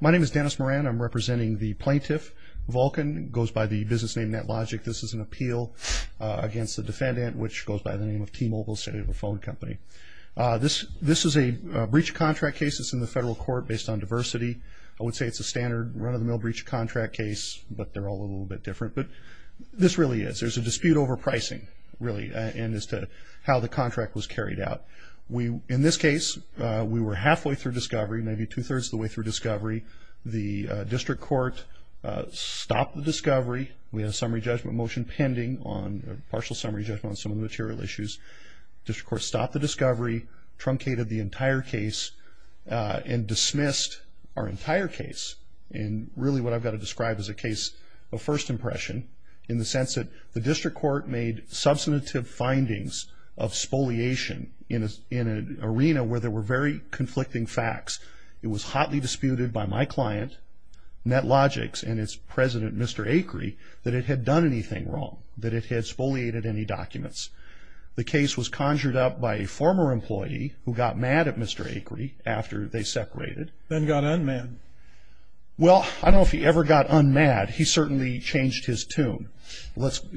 My name is Dennis Moran. I'm representing the Plaintiff Vulcan. It goes by the business name NetLogic. This is an appeal against the defendant, which goes by the name of T-Mobile, a cellular phone company. This is a breach of contract case. It's in the federal court based on diversity. I would say it's a standard run-of-the-mill breach of contract case, but they're all a little bit different. But this really is. There's a dispute over pricing, really, and as to how the contract was carried out. In this case, we were halfway through discovery. The district court stopped the discovery. We had a summary judgment motion pending on a partial summary judgment on some of the material issues. District court stopped the discovery, truncated the entire case, and dismissed our entire case in really what I've got to describe as a case of first impression in the sense that the district court made substantive findings of spoliation in an arena where there were very conflicting facts. It was hotly disputed by my client, NetLogic's, and its president, Mr. Acri, that it had done anything wrong, that it had spoliated any documents. The case was conjured up by a former employee who got mad at Mr. Acri after they separated. Then got un-mad. Well, I don't know if he ever got un-mad. He certainly changed his tune.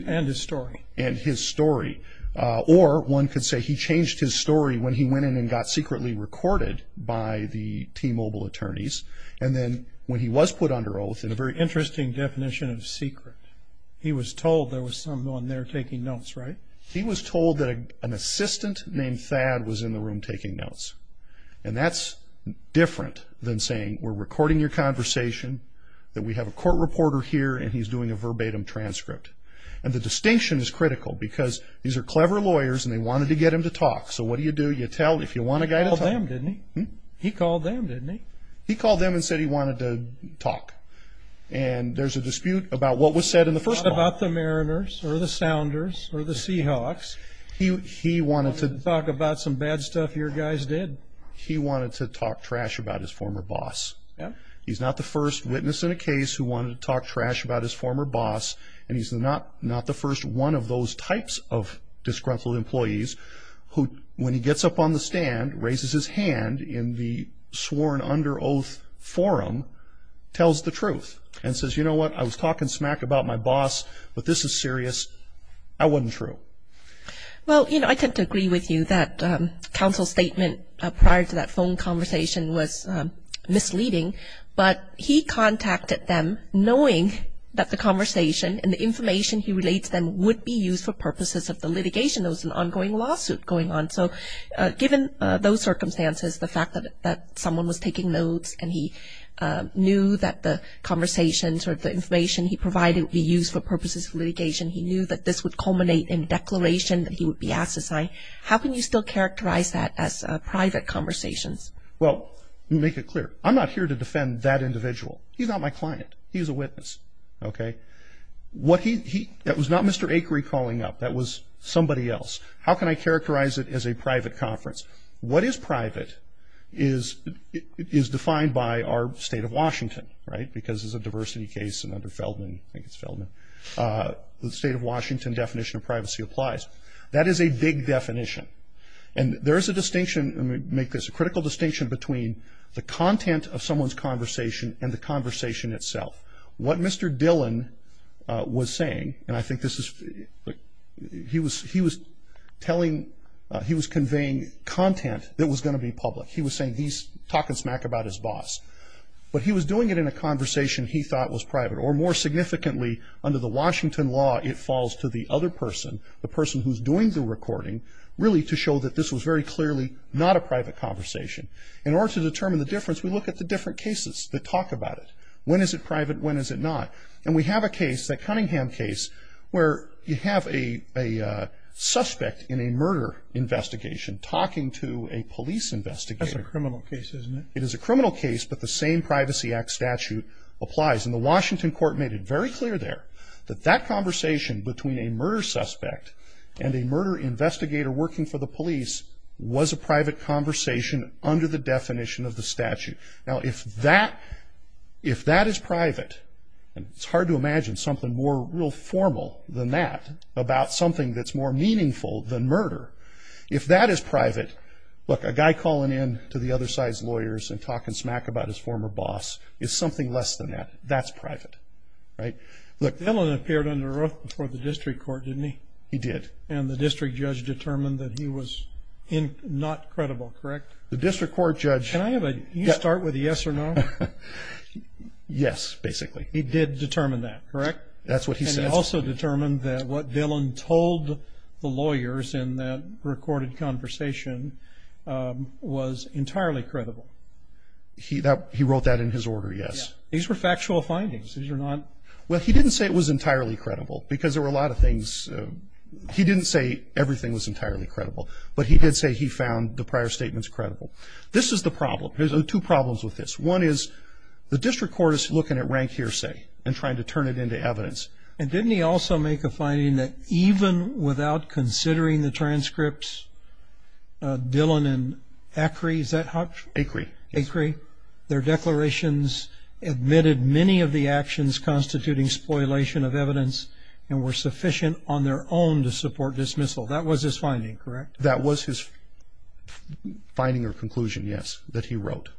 And his story. And his story. Or one could say he changed his story when he went in and got secretly recorded by the T-Mobile attorneys. And then when he was put under oath in a very interesting definition of secret, he was told there was someone there taking notes, right? He was told that an assistant named Thad was in the room taking notes. And that's different than saying we're recording your conversation, that we have a court reporter here and he's doing a verbatim transcript. And the distinction is critical because these are clever lawyers and they wanted to get him to talk. So what do you do? You tell, if you want a guy to talk trash about his former boss, you call them, didn't he? He called them, didn't he? He called them and said he wanted to talk. And there's a dispute about what was said in the first call. Not about the Mariners or the Sounders or the Seahawks. He wanted to. Talk about some bad stuff your guys did. He wanted to talk trash about his former boss. He's not the first witness in a case who wanted to talk trash about his former boss. And he's not the first one of those types of disgruntled employees who, when he gets up on the stand, raises his hand in the sworn under oath forum, tells the truth. And says, you know what, I was talking smack about my boss, but this is serious. That wasn't true. Well, you know, I tend to agree with you that counsel's statement prior to that phone conversation was misleading. But he contacted them knowing that the conversation and the information he relates then would be used for purposes of the litigation. There was an ongoing lawsuit going on. So given those circumstances, the fact that someone was taking notes and he knew that the conversations or the information he provided would be used for purposes of litigation, he knew that this would culminate in a declaration that he would be asked to sign. How can you still characterize that as private conversations? Well, let me make it clear. I'm not here to defend that individual. He's not my client. He's a witness. Okay? What he, that was not Mr. Akery calling up. That was somebody else. How can I characterize it as a private conference? What is private is defined by our state of Washington, right? Because it's a diversity case and under Feldman, I think it's Feldman, the state of Washington definition of privacy applies. That is a big definition. And there's a distinction, let me make this, a critical distinction between the content of someone's recording itself. What Mr. Dillon was saying, and I think this is, he was telling, he was conveying content that was going to be public. He was saying he's talking smack about his boss. But he was doing it in a conversation he thought was private or more significantly under the Washington law, it falls to the other person, the person who's doing the recording really to show that this was very clearly not a private conversation. In order to determine the difference, we look at the different cases that talk about it. When is it private, when is it not? And we have a case, that Cunningham case, where you have a suspect in a murder investigation talking to a police investigator. That's a criminal case, isn't it? It is a criminal case, but the same Privacy Act statute applies. And the Washington court made it very clear there that that conversation between a murder suspect and a murder investigator working for the police was a private conversation under the definition of the statute. Now if that is private, it's hard to imagine something more real formal than that about something that's more meaningful than murder. If that is private, look, a guy calling in to the other side's lawyers and talking smack about his former boss is something less than that. That's private, right? Look, Dillon appeared under oath before the district court, didn't he? He did. And the district judge determined that he was not credible, correct? The district court judge... Can I have a... you start with a yes or no? Yes, basically. He did determine that, correct? That's what he said. And he also determined that what Dillon told the lawyers in that recorded conversation was entirely credible. He wrote that in his order, yes. These were factual findings. These are not... Well, he didn't say it was entirely credible because there were a lot of things... he didn't say everything was entirely credible, but he did say he found the prior statements credible. This is the problem. There's two problems with this. One is the district court is looking at rank hearsay and trying to turn it into evidence. And didn't he also make a finding that even without considering the transcripts, Dillon and Acri, is that how... Acri, yes. Their declarations admitted many of the actions constituting spoilation of evidence and were sufficient on their own to support dismissal. That was his finding, correct? That was his finding or conclusion, yes, that he wrote.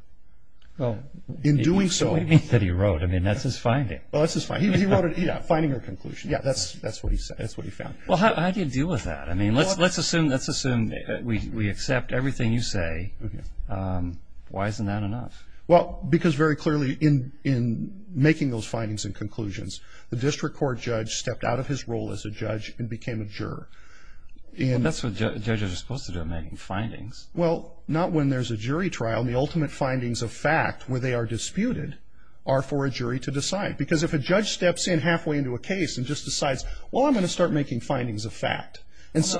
In doing so... What do you mean that he wrote? I mean, that's his finding. Well, that's his finding. He wrote it, yeah, finding or conclusion. Yeah, that's what he said. That's what he found. Well, how do you deal with that? I mean, let's assume we accept everything you say. Why isn't that enough? Well, because very clearly in making those findings and conclusions, the district court judge stepped out of his role as a judge and became a juror. Well, that's what judges are supposed to do, making findings. Well, not when there's a jury trial. The ultimate findings of fact where they are disputed are for a jury to decide. Because if a judge steps in halfway into a case and just decides, well, I'm going to start making findings of fact...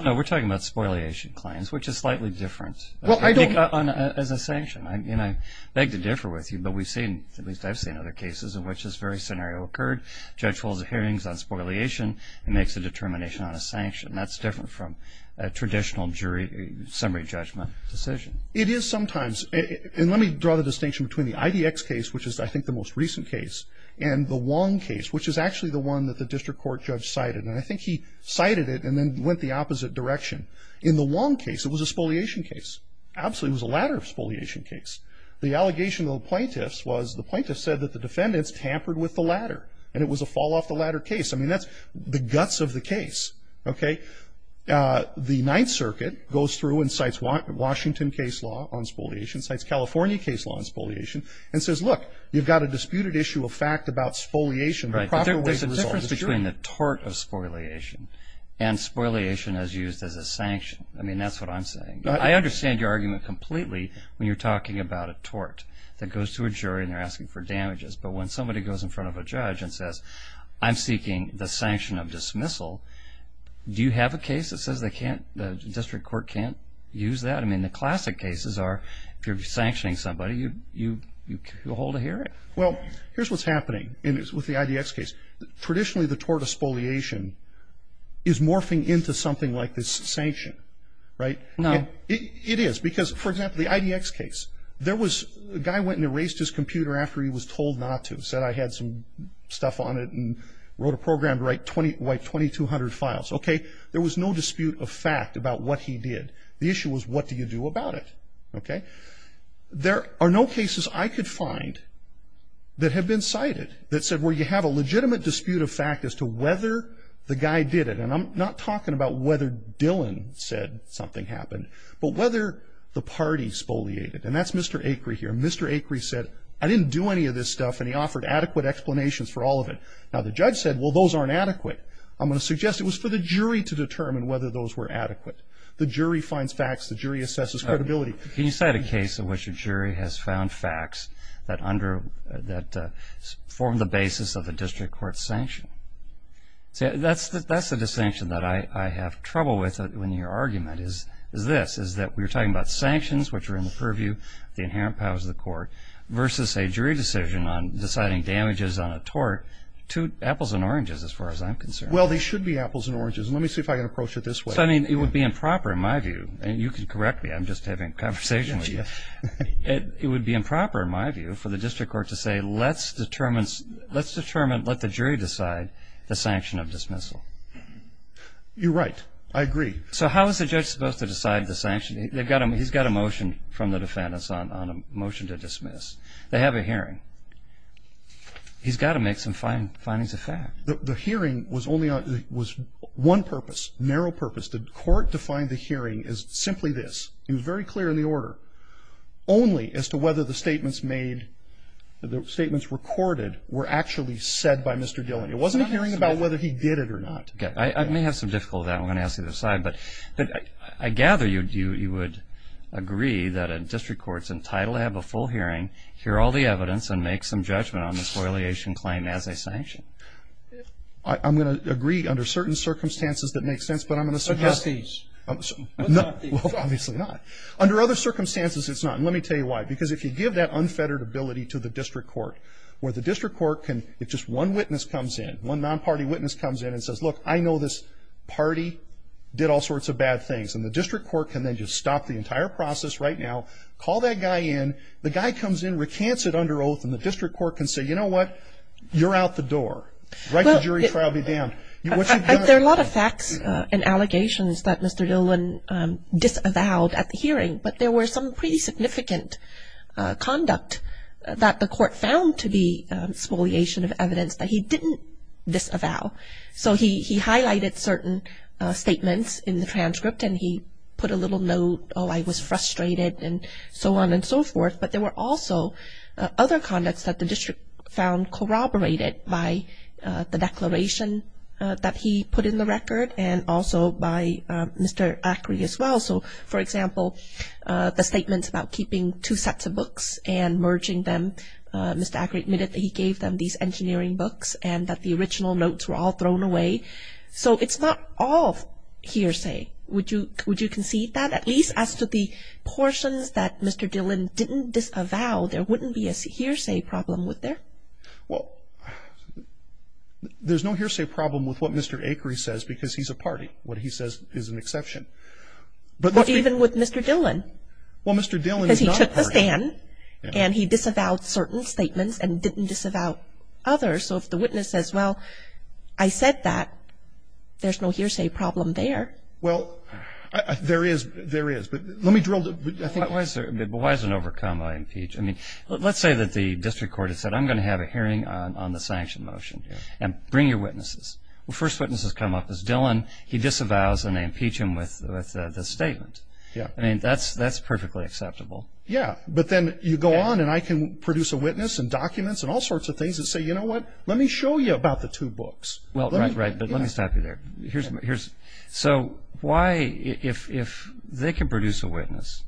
No, we're talking about spoiliation claims, which is slightly different as a sanction. I beg to differ with you, but we've seen, at least I've seen other cases in which this very scenario occurred. A judge holds hearings on spoliation and makes a determination on a sanction. That's different from a traditional summary judgment decision. It is sometimes. And let me draw the distinction between the IDX case, which is I think the most recent case, and the Wong case, which is actually the one that the district court judge cited. And I think he cited it and then went the opposite direction. In the Wong case, it was a spoliation case. Absolutely, it was a latter spoliation case. The allegation of the plaintiffs was the plaintiffs said that the defendants tampered with the latter. And it was a fall-off-the-ladder case. I mean, that's the guts of the case. Okay? The Ninth Circuit goes through and cites Washington case law on spoliation, cites California case law on spoliation, and says, look, you've got a disputed issue of fact about spoliation and the proper way to resolve it. Right. But there's a difference between the tort of spoliation and spoliation as used as a sanction. I mean, that's what I'm saying. I understand your argument completely when you're talking about a tort that goes to a jury and they're asking for damages. But when somebody goes in front of a judge and says, I'm seeking the sanction of dismissal, do you have a case that says they can't, the district court can't use that? I mean, the classic cases are if you're sanctioning somebody, you hold a hearing. Well, here's what's happening with the IDX case. Traditionally, the tort of spoliation is morphing into something like this sanction. Right? No. It is. Because, for example, the IDX case, there was a guy went and erased his computer after he was told not to. Said I had some stuff on it and wrote a program to write 2200 files. Okay. There was no dispute of fact about what he did. The issue was what do you do about it? Okay. There are no cases I could find that have been cited that said, well, you have a legitimate dispute of fact as to whether the guy did it. And I'm not talking about whether Dylan said something happened, but whether the party spoliated. And that's Mr. Acri here. Mr. Acri said, I didn't do any of this stuff and he offered adequate explanations for all of it. Now, the judge said, well, those aren't adequate. I'm going to suggest it was for the jury to determine whether those were adequate. The jury finds facts. The jury assesses credibility. Can you cite a case in which a jury has found facts that form the basis of a district court sanction? That's the distinction that I have trouble with in your argument is this, is that we're talking about sanctions, which are in the purview of the inherent powers of the court, versus a jury decision on deciding damages on a tort to apples and oranges, as far as I'm concerned. Well, they should be apples and oranges. Let me see if I can approach it this way. I mean, it would be improper in my view, and you can correct me. I'm just having a conversation with you. It would be improper in my view for the district court to say, let's determine, let the jury decide the sanction of dismissal. You're right. I agree. So how is the judge supposed to decide the sanction? He's got a motion from the defendants on a motion to dismiss. They have a hearing. He's got to make some findings of fact. The hearing was only on, was one purpose, narrow purpose. The court defined the hearing as simply this. It was very clear in the order. Only as to whether the statements made, the statements recorded, were actually said by Mr. Dillon. It wasn't a hearing about whether he did it or not. Okay. I may have some difficulty with that. I'm going to ask you to decide. But I gather you would agree that a district court's entitled to have a full hearing, hear all the evidence, and make some judgment on the coiliation claim as a sanction. I'm going to agree under certain circumstances that make sense. But I'm going to suggest these. Well, obviously not. Under other circumstances, it's not. And let me tell you why. Because if you give that unfettered ability to the district court, where the district court can, if just one witness comes in, one non-party witness comes in and says, look, I know this party did all sorts of bad things, and the district court can then just stop the entire process right now, call that guy in, the guy comes in, recants it under oath, and the district court can say, you know what, you're out the door. Write the jury trial, be damned. There are a lot of facts and allegations that Mr. Dillon disavowed at the hearing. But there were some pretty significant conduct that the court found to be spoliation of evidence that he didn't disavow. So he highlighted certain statements in the transcript, and he put a little note, oh, I was frustrated, and so on and so forth. But there were also other conducts that the district found corroborated by the declaration that he put in the record and also by Mr. Acri as well. So, for example, the statements about keeping two sets of books and merging them. Mr. Acri admitted that he gave them these engineering books and that the original notes were all thrown away. So it's not all hearsay. Would you would you concede that? At least as to the portions that Mr. Dillon didn't disavow, there wouldn't be a hearsay problem, would there? Well, there's no hearsay problem with what Mr. Acri says, because he's a party. What he says is an exception. But even with Mr. Dillon? Well, Mr. Dillon is not a party. Because he took the stand and he disavowed certain statements and didn't disavow others. So if the witness says, well, I said that, there's no hearsay problem there. Well, there is. There is. But let me drill down. Why is an overcoma impeach? I mean, let's say that the district court has said, I'm going to have a hearing on the sanction motion and bring your witnesses. Well, first witnesses come up as Dillon. He disavows and they impeach him with the statement. I mean, that's that's perfectly acceptable. Yeah. But then you go on and I can produce a witness and documents and all sorts of things that say, you know what? Let me show you about the two books. Well, right. Right. But let me stop you there. Here's here's. So why? If they can produce a witness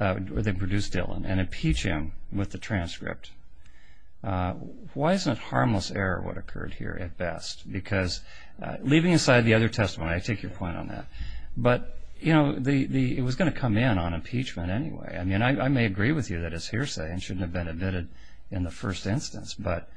or they produce Dillon and impeach him with the transcript, why isn't it harmless error what occurred here at best? Because leaving aside the other testimony, I take your point on that. But, you know, the it was going to come in on impeachment anyway. I mean, I may agree with you that it's hearsay and shouldn't have been admitted in the first instance. But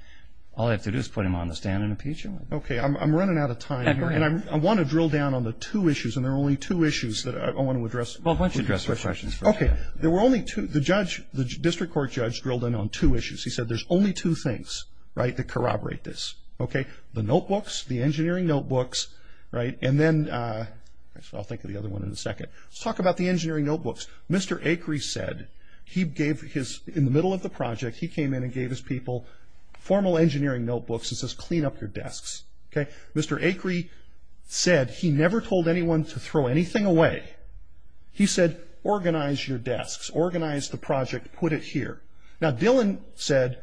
all I have to do is put him on the stand and impeach him. OK, I'm running out of time. And I want to drill down on the two issues. And there are only two issues that I want to address. Well, why don't you address your questions? OK, there were only two. The judge, the district court judge drilled in on two issues. He said there's only two things right to corroborate this. OK, the notebooks, the engineering notebooks. Right. And then I'll think of the other one in a second. Let's talk about the engineering notebooks. Mr. Acri said he gave his in the middle of the project, he came in and gave his people formal engineering notebooks and says, clean up your desks. OK, Mr. Acri said he never told anyone to throw anything away. He said, organize your desks, organize the project, put it here. Now, Dillon said,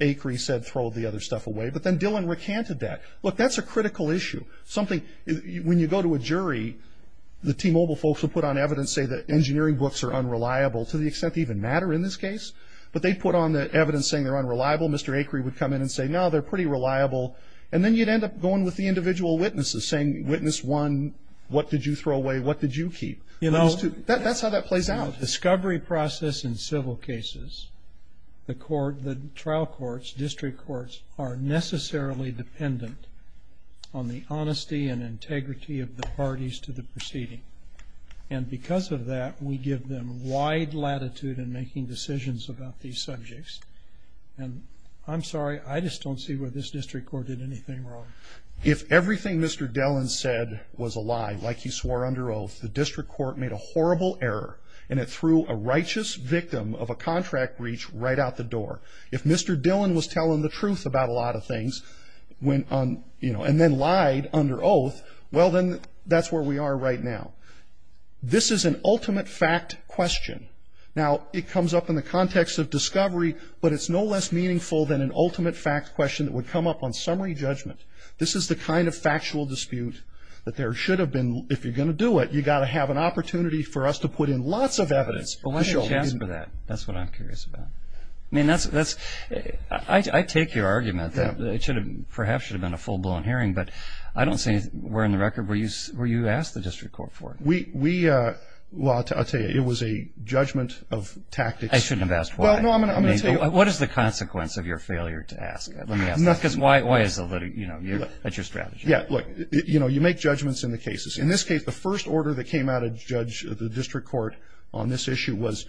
Acri said, throw the other stuff away. But then Dillon recanted that. Look, that's a critical issue. Something when you go to a jury, the T-Mobile folks will put on evidence, say that engineering books are unreliable to the extent they even matter in this case. But they put on the evidence saying they're unreliable. Mr. Acri would come in and say, no, they're pretty reliable. And then you'd end up going with the individual witnesses saying, witness one, what did you throw away? What did you keep? You know, that's how that plays out. The discovery process in civil cases, the trial courts, district courts are necessarily dependent on the honesty and integrity of the parties to the proceeding. And because of that, we give them wide latitude in making decisions about these subjects. And I'm sorry, I just don't see where this district court did anything wrong. If everything Mr. Dillon said was a lie, like he swore under oath, the district court made a horrible error and it threw a righteous victim of a contract breach right out the door. If Mr. Dillon was telling the truth about a lot of things and then lied under oath, well, then that's where we are right now. This is an ultimate fact question. Now, it comes up in the context of discovery, but it's no less meaningful than an ultimate fact question that would come up on summary judgment. This is the kind of factual dispute that there should have been if you're going to do it. You've got to have an opportunity for us to put in lots of evidence. But what's the chance for that? That's what I'm curious about. I mean, that's, I take your argument that it should have, perhaps should have been a full-blown hearing, but I don't see where in the record where you asked the district court for it. We, well, I'll tell you, it was a judgment of tactics. I shouldn't have asked why. Well, no, I'm going to tell you. What is the consequence of your failure to ask? Let me ask that, because why is the litigation, you know, that's your strategy. Yeah, look, you know, you make judgments in the cases. In this case, the first order that came out of the district court on this issue was,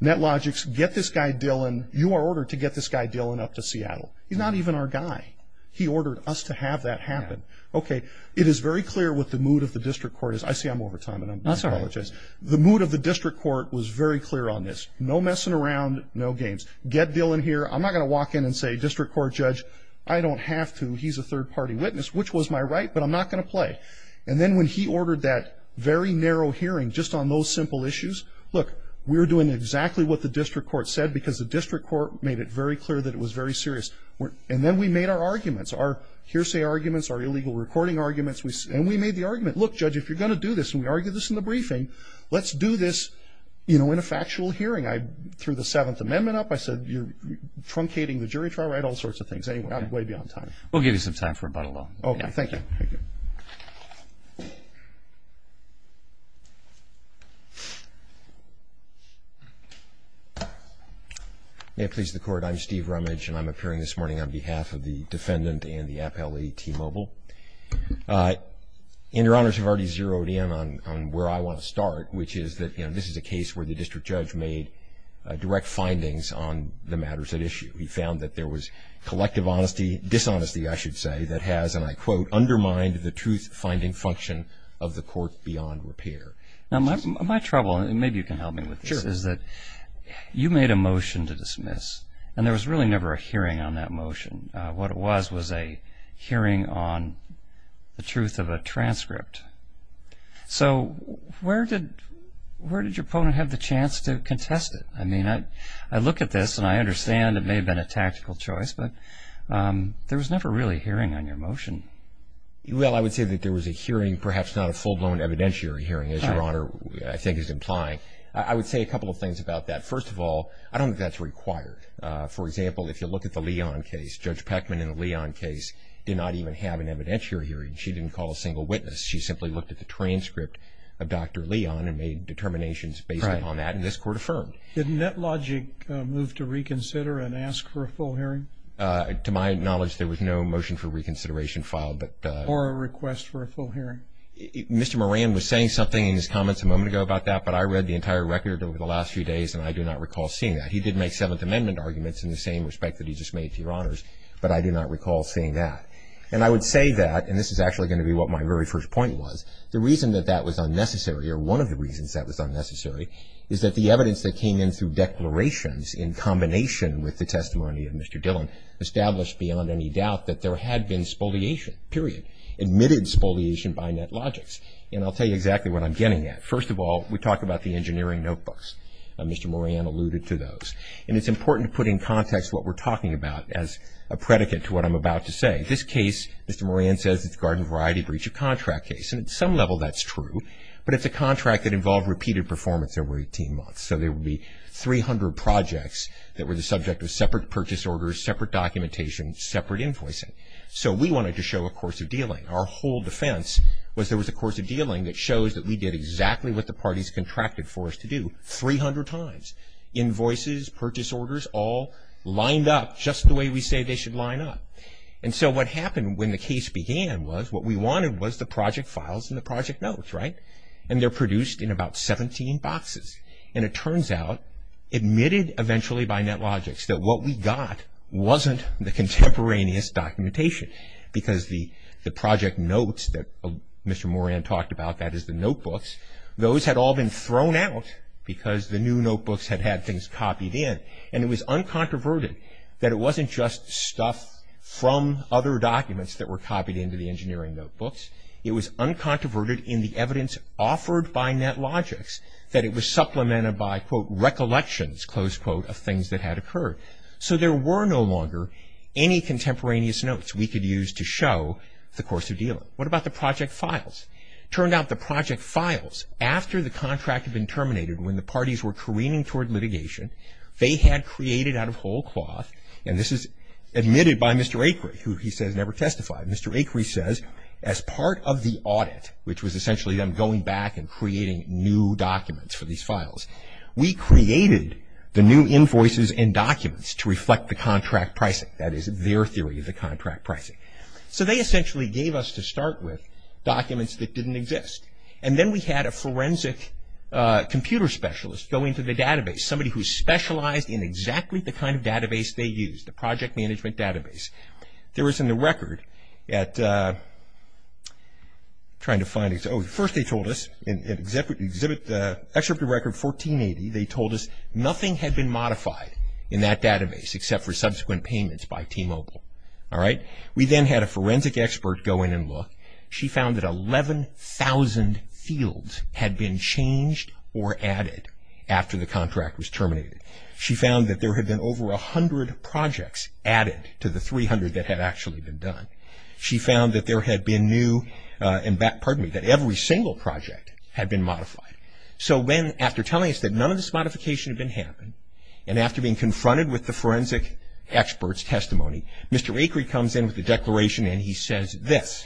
NetLogix, get this guy Dillon, you are ordered to get this guy Dillon up to Seattle. He's not even our guy. He ordered us to have that happen. Yeah. Okay. It is very clear what the mood of the district court is. I see I'm over time, and I apologize. That's all right. The mood of the district court was very clear on this. No messing around, no games. Get Dillon here. I'm not going to walk in and say, district court judge, I don't have to. He's a third-party witness, which was my right, but I'm not going to play. And then when he ordered that very narrow hearing just on those simple issues, look, we're doing exactly what the district court said, because the district court made it very serious. And then we made our arguments, our hearsay arguments, our illegal recording arguments, and we made the argument, look, judge, if you're going to do this, and we argued this in the briefing, let's do this, you know, in a factual hearing. I threw the Seventh Amendment up. I said, you're truncating the jury trial, right? All sorts of things. Anyway, I'm way beyond time. We'll give you some time for rebuttal, though. Okay. Thank you. Thank you. May it please the Court, I'm Steve Rumage, and I'm appearing this morning on behalf of the defendant and the appellee, T. Mobile. And Your Honors have already zeroed in on where I want to start, which is that, you know, this is a case where the district judge made direct findings on the matters at issue. He found that there was collective honesty dishonesty, I should say, that has, and I quote, undermined the truth-finding function of the court beyond repair. Now, my trouble, and maybe you can help me with this, is that you made a motion to dismiss, and there was really never a hearing on that motion. What it was was a hearing on the truth of a transcript. So where did your opponent have the chance to contest it? I mean, I look at this, and I understand it may have been a tactical choice, but there was never really hearing on your motion. Well, I would say that there was a hearing, perhaps not a full-blown evidentiary hearing, as Your Honor, I think, is implying. I would say a couple of things about that. First of all, I don't think that's required. For example, if you look at the Leon case, Judge Peckman in the Leon case did not even have an evidentiary hearing. She didn't call a single witness. She simply looked at the transcript of Dr. Leon and made determinations based upon that, and this Court affirmed. Didn't NetLogic move to reconsider and ask for a full hearing? To my knowledge, there was no motion for reconsideration filed, but Or a request for a full hearing? Mr. Moran was saying something in his comments a moment ago about that, but I read the entire record over the last few days, and I do not recall seeing that. He did make Seventh Amendment arguments in the same respect that he just made to Your Honors, but I do not recall seeing that. And I would say that, and this is actually going to be what my very first point was, the reason that that was unnecessary, or one of the reasons that was unnecessary, is that the evidence that came in through declarations in combination with the testimony of Mr. Dillon established beyond any doubt that there had been spoliation, period, admitted spoliation by NetLogic. And I'll tell you exactly what I'm getting at. First of all, we talk about the engineering notebooks. Mr. Moran alluded to those. And it's important to put in context what we're talking about as a predicate to what I'm about to say. This case, Mr. Moran says it's a garden variety breach of contract case, and at some level that's true, but it's a contract that involved repeated performance over 18 months. So there would be 300 projects that were the subject of separate purchase orders, separate documentation, separate invoicing. So we wanted to show a course of dealing. Our whole defense was there was a course of dealing that shows that we did exactly what the parties contracted for us to do, 300 times. Invoices, purchase orders, all lined up just the way we say they should line up. And so what happened when the case began was what we wanted was the project files and the project notes, right? And they're produced in about 17 boxes. And it turns out, admitted eventually by NetLogic that what we got wasn't the contemporaneous documentation. Because the project notes that Mr. Moran talked about, that is the notebooks, those had all been thrown out because the new notebooks had had things copied in. And it was uncontroverted that it wasn't just stuff from other documents that were copied into the engineering notebooks. It was uncontroverted in the evidence offered by NetLogic that it was supplemented by, quote, recollections, close quote, of things that had occurred. So there were no longer any contemporaneous notes we could use to show the course of dealing. What about the project files? Turned out the project files, after the contract had been terminated, when the parties were careening toward litigation, they had created out of whole cloth, and this is admitted by Mr. Acree, who he says never testified. Mr. Acree says, as part of the audit, which was essentially them going back and creating new documents for these files, we created the new invoices and documents to reflect the contract pricing. That is their theory of the contract pricing. So they essentially gave us, to start with, documents that didn't exist. And then we had a forensic computer specialist go into the database, somebody who specialized in exactly the kind of database they used, the project management database. There was in the record at, trying to find, oh, first they told us, in Exhibit Record 1480, they told us nothing had been modified in that database except for subsequent payments by T-Mobile. All right? We then had a forensic expert go in and look. She found that 11,000 fields had been changed or added after the contract was terminated. She found that there had been over 100 projects added to the 300 that had actually been done. She found that there had been new, and that, pardon me, that every single project had been modified. So then, after telling us that none of this modification had been happened, and after being confronted with the forensic expert's testimony, Mr. Acree comes in with a declaration, and he says this.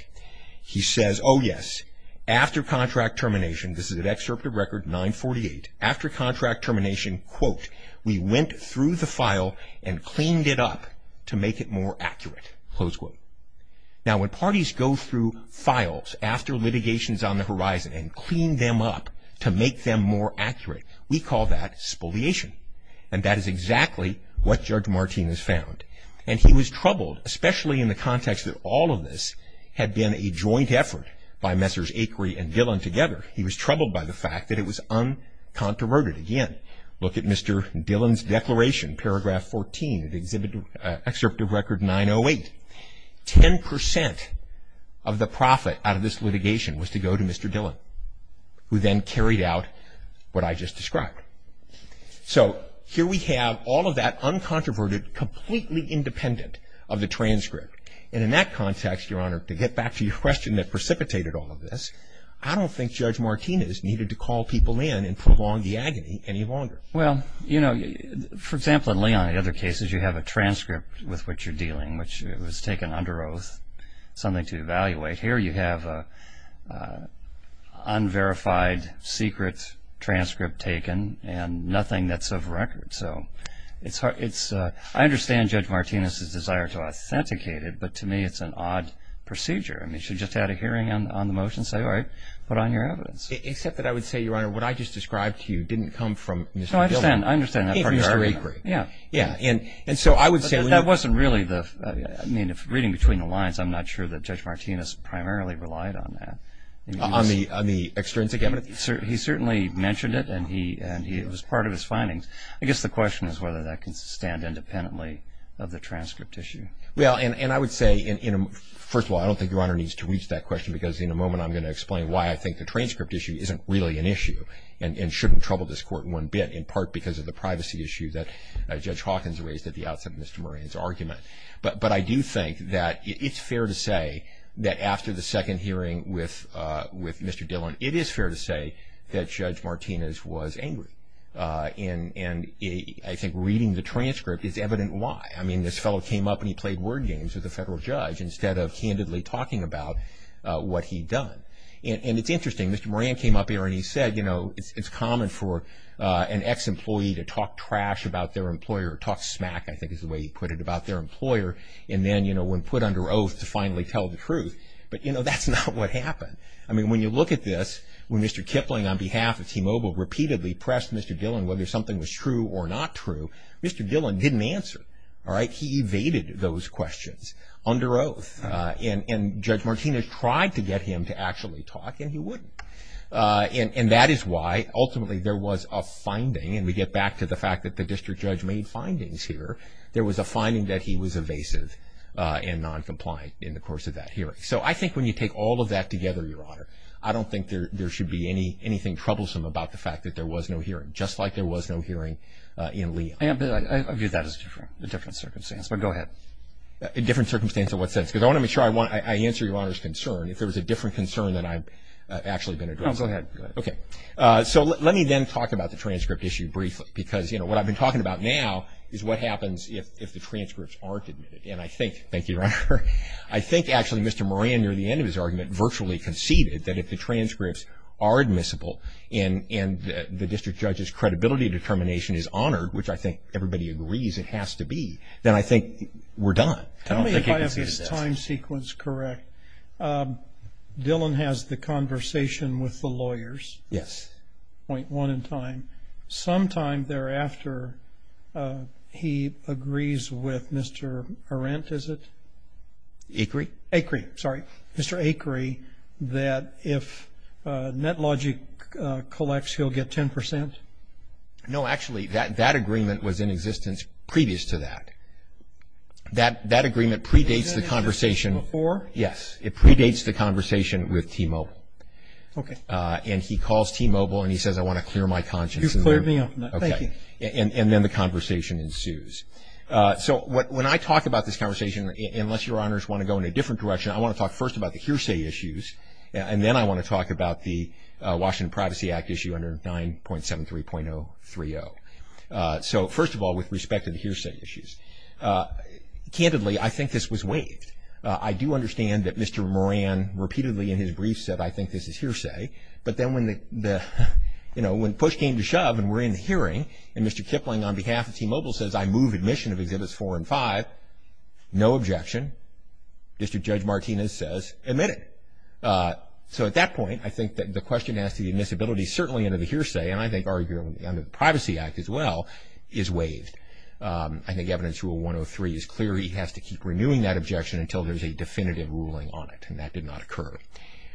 He says, oh, yes, after contract termination, this is at Excerpt of Record 948, after contract termination, quote, we went through the file and cleaned it up to make it more accurate, close quote. Now, when parties go through files after litigations on the horizon and clean them up to make them more accurate, we call that spoliation. And that is exactly what Judge Martinez found. And he was troubled, especially in the context that all of this had been a joint effort by Mr. Dillon together, he was troubled by the fact that it was uncontroverted. Again, look at Mr. Dillon's declaration, paragraph 14 at Excerpt of Record 908. Ten percent of the profit out of this litigation was to go to Mr. Dillon, who then carried out what I just described. So here we have all of that uncontroverted, completely independent of the transcript. And in that context, Your Honor, to get back to your question that precipitated all of this, I don't think Judge Martinez needed to call people in and prolong the agony any longer. Well, you know, for example, in Leon and other cases, you have a transcript with which you're dealing, which was taken under oath, something to evaluate. Here you have an unverified secret transcript taken and nothing that's of record. So it's hard, it's, I understand Judge Martinez's desire to authenticate it, but to me it's an odd procedure. I mean, she just had a hearing on the motion, say, all right, put on your evidence. Except that I would say, Your Honor, what I just described to you didn't come from Mr. Dillon. No, I understand. I understand that part of your argument. If Mr. Avery. Yeah. Yeah. And so I would say when you're But that wasn't really the, I mean, if reading between the lines, I'm not sure that Judge Martinez primarily relied on that. On the extrinsic evidence? He certainly mentioned it and he, and it was part of his findings. I guess the question is whether that can stand independently of the transcript issue. Well, and I would say in a, first of all, I don't think Your Honor needs to reach that question because in a moment I'm going to explain why I think the transcript issue isn't really an issue and shouldn't trouble this Court in one bit, in part because of the privacy issue that Judge Hawkins raised at the outset of Mr. Moran's argument. But I do think that it's fair to say that after the second hearing with Mr. Dillon, it is fair to say that Judge Martinez was angry. And I think reading the transcript is evident why. I mean, this fellow came up and he played word games with a federal judge instead of candidly talking about what he'd done. And it's interesting, Mr. Moran came up here and he said, you know, it's common for an ex-employee to talk trash about their employer, talk smack, I think is the way he put it, about their employer and then, you know, when put under oath to finally tell the truth. But, you know, that's not what happened. I mean, when you look at this, when Mr. Kipling on behalf of T-Mobile repeatedly pressed Mr. Dillon whether something was true or not true, Mr. Dillon didn't answer. All right? He evaded those questions under oath. And Judge Martinez tried to get him to actually talk and he wouldn't. And that is why, ultimately, there was a finding, and we get back to the fact that the district judge made findings here, there was a finding that he was evasive and noncompliant in the course of that hearing. So I think when you take all of that together, Your Honor, I don't think there should be anything troublesome about the fact that there was no hearing, just like there was no hearing in Leon. I view that as a different circumstance, but go ahead. A different circumstance in what sense? Because I want to make sure I answer Your Honor's concern if there was a different concern than I've actually been addressing. No, go ahead. Okay. So let me then talk about the transcript issue briefly because, you know, what I've been talking about now is what happens if the transcripts aren't admitted. And I think – thank you, Your Honor – I think actually Mr. Moran, near the end of his argument, virtually conceded that if the transcripts are admissible and the district judge's credibility determination is honored, which I think everybody agrees it has to be, then I think we're done. Tell me if I have this time sequence correct. Dylan has the conversation with the lawyers. Yes. Point one in time. Sometime thereafter, he agrees with Mr. Arendt, is it? Acri. Acri, sorry. Mr. Acri, that if NetLogic collects, he'll get 10 percent? No, actually, that agreement was in existence previous to that. That agreement predates Was it in existence before? Yes. It predates the conversation with T-Mobile. Okay. And he calls T-Mobile and he says, I want to clear my conscience. You've cleared me up. Thank you. Okay. And then the conversation ensues. So when I talk about this conversation, unless your honors want to go in a different direction, I want to talk first about the hearsay issues and then I want to talk about the Washington Privacy Act issue under 9.73.030. So, first of all, with respect to the hearsay issues, candidly, I think this was waived. I do understand that Mr. Moran repeatedly in his brief said, I think this is hearsay. But then when push came to shove and we're in the hearing and Mr. Kipling on behalf of T-Mobile says I move admission of Exhibits 4 and 5, no objection. District Judge Martinez says, admit it. So at that point, I think the question as to the admissibility, certainly under the hearsay and I think arguably under the Privacy Act as well, is waived. I think Evidence Rule 103 is clear. He has to keep renewing that objection until there's a definitive ruling on it. And that did not occur.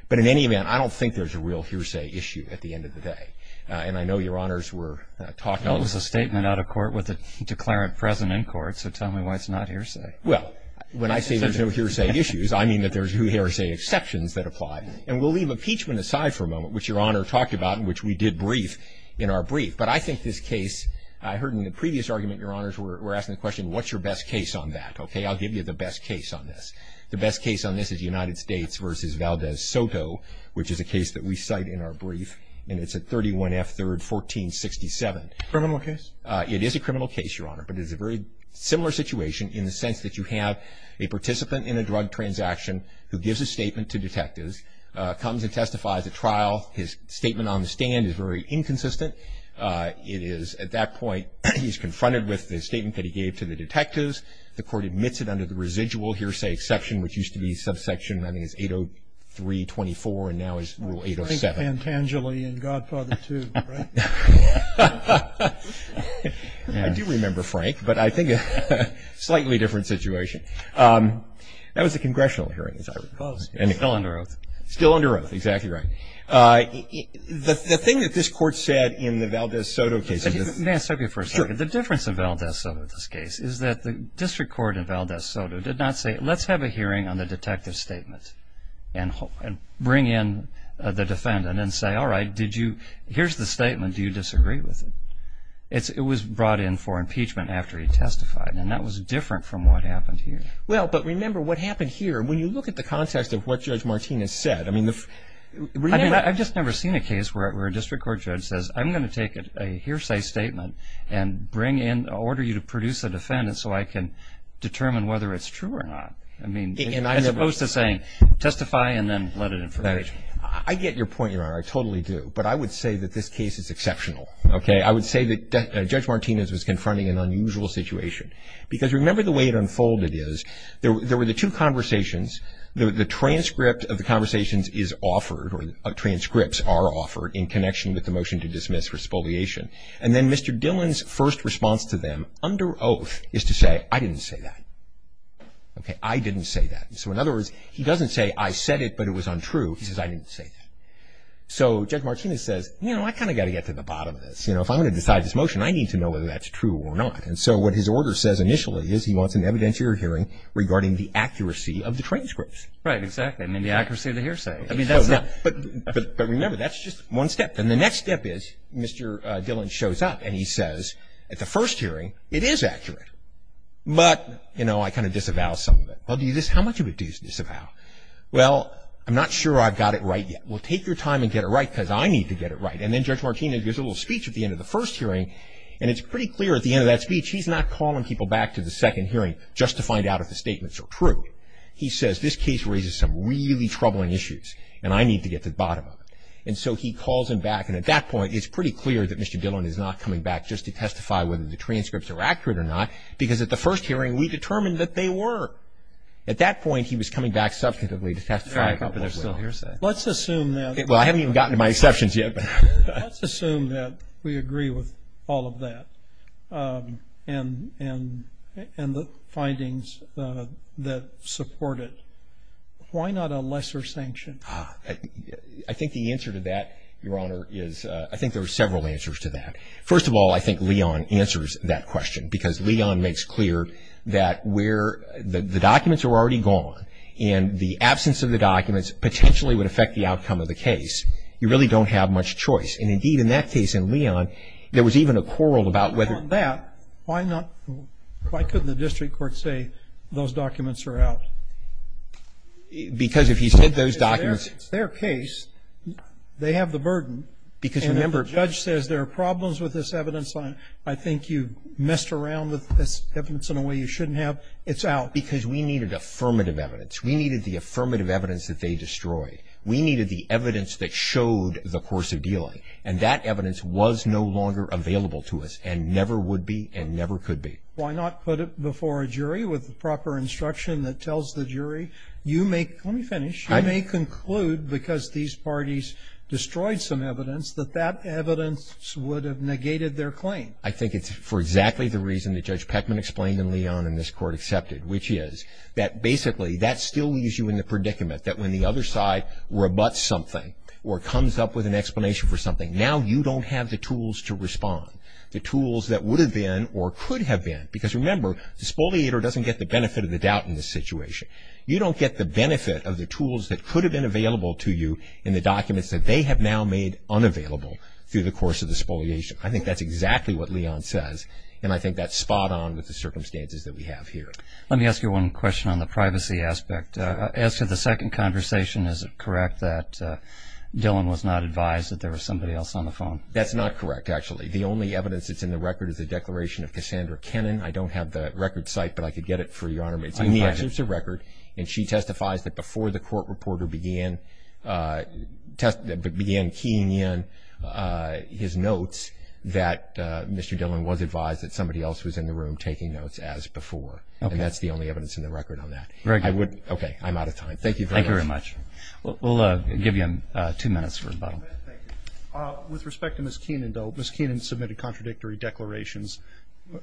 But in any event, I don't think there's a real hearsay issue at the end of the day. And I know your honors were talking about a statement out of court with a declarant present in court. So tell me why it's not hearsay. Well, when I say there's no hearsay issues, I mean that there's no hearsay exceptions that apply. And we'll leave impeachment aside for a moment, which Your Honor talked about and which we did brief in our brief. But I think this case, I heard in the previous argument Your Honors were asking the question, what's your best case on that? Okay. I'll give you the best case on this. The best case on this is United States v. Valdez Soto, which is a case that we cite in our brief. And it's at 31F 3rd 1467. Criminal case? It is a criminal case, Your Honor. But it is a very similar situation in the sense that you have a participant in a drug transaction who gives a statement to detectives, comes and testifies at trial. His statement on the stand is very inconsistent. It is at that point, he's confronted with the statement that he gave to the detectives. The court admits it under the residual hearsay exception, which used to be subsection, I think it's 803-24, and now it's rule 807. Frank Pantangeli in Godfather II, right? I do remember Frank, but I think it's a slightly different situation. That was a congressional hearing, as I recall. Still under oath. Still under oath, exactly right. The thing that this court said in the Valdez Soto case... May I stop you for a second? Sure. The difference in Valdez Soto, this case, is that the district court in Valdez Soto, they have a hearing on the detective's statement and bring in the defendant and say, all right, here's the statement. Do you disagree with it? It was brought in for impeachment after he testified, and that was different from what happened here. Well, but remember what happened here. When you look at the context of what Judge Martinez said... I've just never seen a case where a district court judge says, I'm going to take a hearsay statement and bring in, order you to produce a defendant so I can determine whether it's true or not, as opposed to saying, testify and then let it in for impeachment. I get your point, Your Honor. I totally do. But I would say that this case is exceptional. I would say that Judge Martinez was confronting an unusual situation. Because remember the way it unfolded is, there were the two conversations. The transcript of the conversations is offered, or transcripts are offered, in connection with the motion to dismiss for spoliation. And then Mr. Dillon's first response to them, under oath, is to say, I didn't say that. Okay, I didn't say that. So in other words, he doesn't say, I said it, but it was untrue. He says, I didn't say that. So Judge Martinez says, you know, I kind of got to get to the bottom of this. You know, if I'm going to decide this motion, I need to know whether that's true or not. And so what his order says initially is, he wants an evidentiary hearing regarding the accuracy of the transcripts. Right, exactly. I mean, the accuracy of the hearsay. I mean, that's not... But remember, that's just one step. Then the next step is, Mr. Dillon shows up and he says, at the first hearing, it is accurate. But, you know, I kind of disavow some of it. Well, do you dis... How much of it do you disavow? Well, I'm not sure I've got it right yet. Well, take your time and get it right, because I need to get it right. And then Judge Martinez gives a little speech at the end of the first hearing, and it's pretty clear at the end of that speech, he's not calling people back to the second hearing just to find out if the statements are true. He says, this case raises some really troubling issues, and I need to get to the bottom of it. And so he calls him back, and at that point, it's pretty clear that Mr. Dillon is not coming back just to testify whether the transcripts are accurate or not, because at the first hearing, we determined that they were. At that point, he was coming back substantively to testify. Let's assume that... Well, I haven't even gotten to my exceptions yet. Let's assume that we agree with all of that, and the findings that support it. Why not a lesser sanction? I think the answer to that, Your Honor, is... I think there are several answers to that. First of all, I think Leon answers that question, because Leon makes clear that where the documents are already gone, and the absence of the documents potentially would affect the outcome of the case, you really don't have much choice. And indeed, in that case, in Leon, there was even a quarrel about whether... On that, why not... Why couldn't the district court say those documents are out? Because if he said those documents... It's their case. They have the burden. Because, remember... The judge says there are problems with this evidence. I think you messed around with this evidence in a way you shouldn't have. It's out. Because we needed affirmative evidence. We needed the affirmative evidence that they destroyed. We needed the evidence that showed the course of dealing. And that evidence was no longer available to us, and never would be, and never could be. Why not put it before a jury with the proper instruction that tells the jury, you may... Let me finish. You may conclude, because these parties destroyed some evidence, that that evidence would have negated their claim. I think it's for exactly the reason that Judge Peckman explained and Leon and this court accepted, which is that, basically, that still leaves you in the predicament that when the other side rebuts something or comes up with an explanation for something, now you don't have the tools to respond. The tools that would have been or could have been. Because, remember, the spoliator doesn't get the benefit of the tools that could have been available to you in the documents that they have now made unavailable through the course of the spoliation. I think that's exactly what Leon says, and I think that's spot on with the circumstances that we have here. Let me ask you one question on the privacy aspect. As to the second conversation, is it correct that Dylan was not advised that there was somebody else on the phone? That's not correct, actually. The only evidence that's in the record is the declaration of Cassandra Kennan. I don't have the record site, but I could get it for you, Your Honor. It's in the excerpts of record, and she testifies that before the court reporter began testing, began keying in his notes, that Mr. Dylan was advised that somebody else was in the room taking notes as before, and that's the only evidence in the record on that. Okay, I'm out of time. Thank you. Thank you very much. We'll give you two minutes for rebuttal. With respect to Ms. Kennan, though, Ms. Kennan submitted contradictory declarations.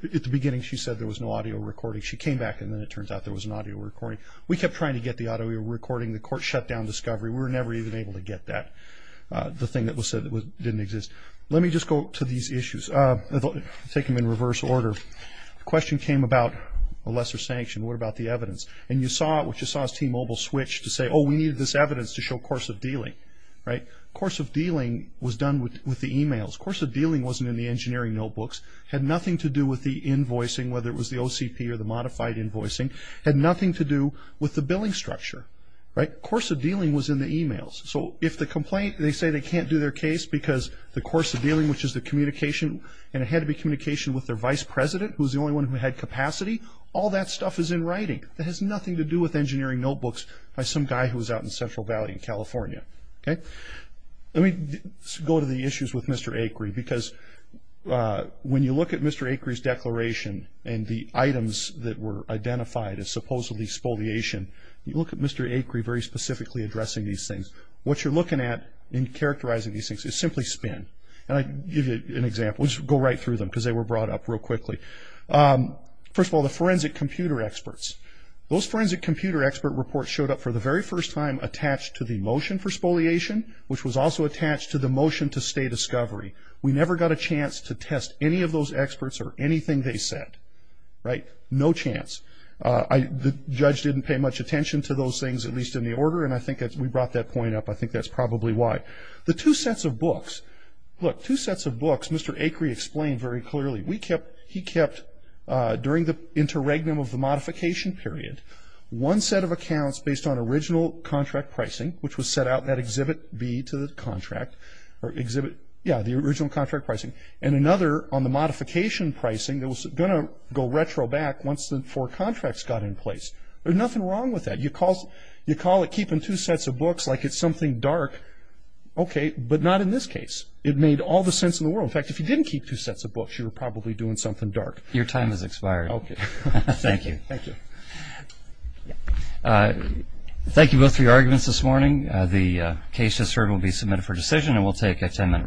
At the beginning, she said there was no audio recording. She came back, and then it turns out there was an audio recording. We kept trying to get the audio recording. The court shut down discovery. We were never even able to get that, the thing that was said that didn't exist. Let me just go to these issues. I'll take them in reverse order. The question came about a lesser sanction. What about the evidence? And you saw it, which you saw as T-Mobile switched to say, oh, we needed this evidence to show course of dealing, right? Course of dealing was done with the emails. Course of dealing wasn't in the engineering notebooks, had nothing to do with the invoicing, whether it was the OCP or the modified report, right? Course of dealing was in the emails. So if the complaint, they say they can't do their case because the course of dealing, which is the communication, and it had to be communication with their vice president, who's the only one who had capacity, all that stuff is in writing. That has nothing to do with engineering notebooks by some guy who was out in Central Valley in California, okay? Let me go to the issues with Mr. Acri, because when you look at Mr. Acri's declaration and the items that were in Mr. Acri very specifically addressing these things, what you're looking at in characterizing these things is simply spin. And I give you an example. We'll just go right through them because they were brought up real quickly. First of all, the forensic computer experts. Those forensic computer expert reports showed up for the very first time attached to the motion for spoliation, which was also attached to the motion to stay discovery. We never got a chance to test any of those experts or anything they said, right? No chance. The judge didn't pay much attention to those things, at least in the order, and I think we brought that point up. I think that's probably why. The two sets of books. Look, two sets of books, Mr. Acri explained very clearly. He kept, during the interregnum of the modification period, one set of accounts based on original contract pricing, which was set out in that exhibit B to the contract, or exhibit, yeah, the original contract pricing. And another on the modification pricing that was going to go retro back once the four contracts got in place. There's nothing wrong with that. You call it keeping two sets of books like it's something dark, okay, but not in this case. It made all the sense in the world. In fact, if you didn't keep two sets of books, you were probably doing something dark. Your time has expired. Okay. Thank you. Thank you. Thank you both for your arguments this morning. The case just heard will be submitted for decision, and we'll take a 10-minute recess.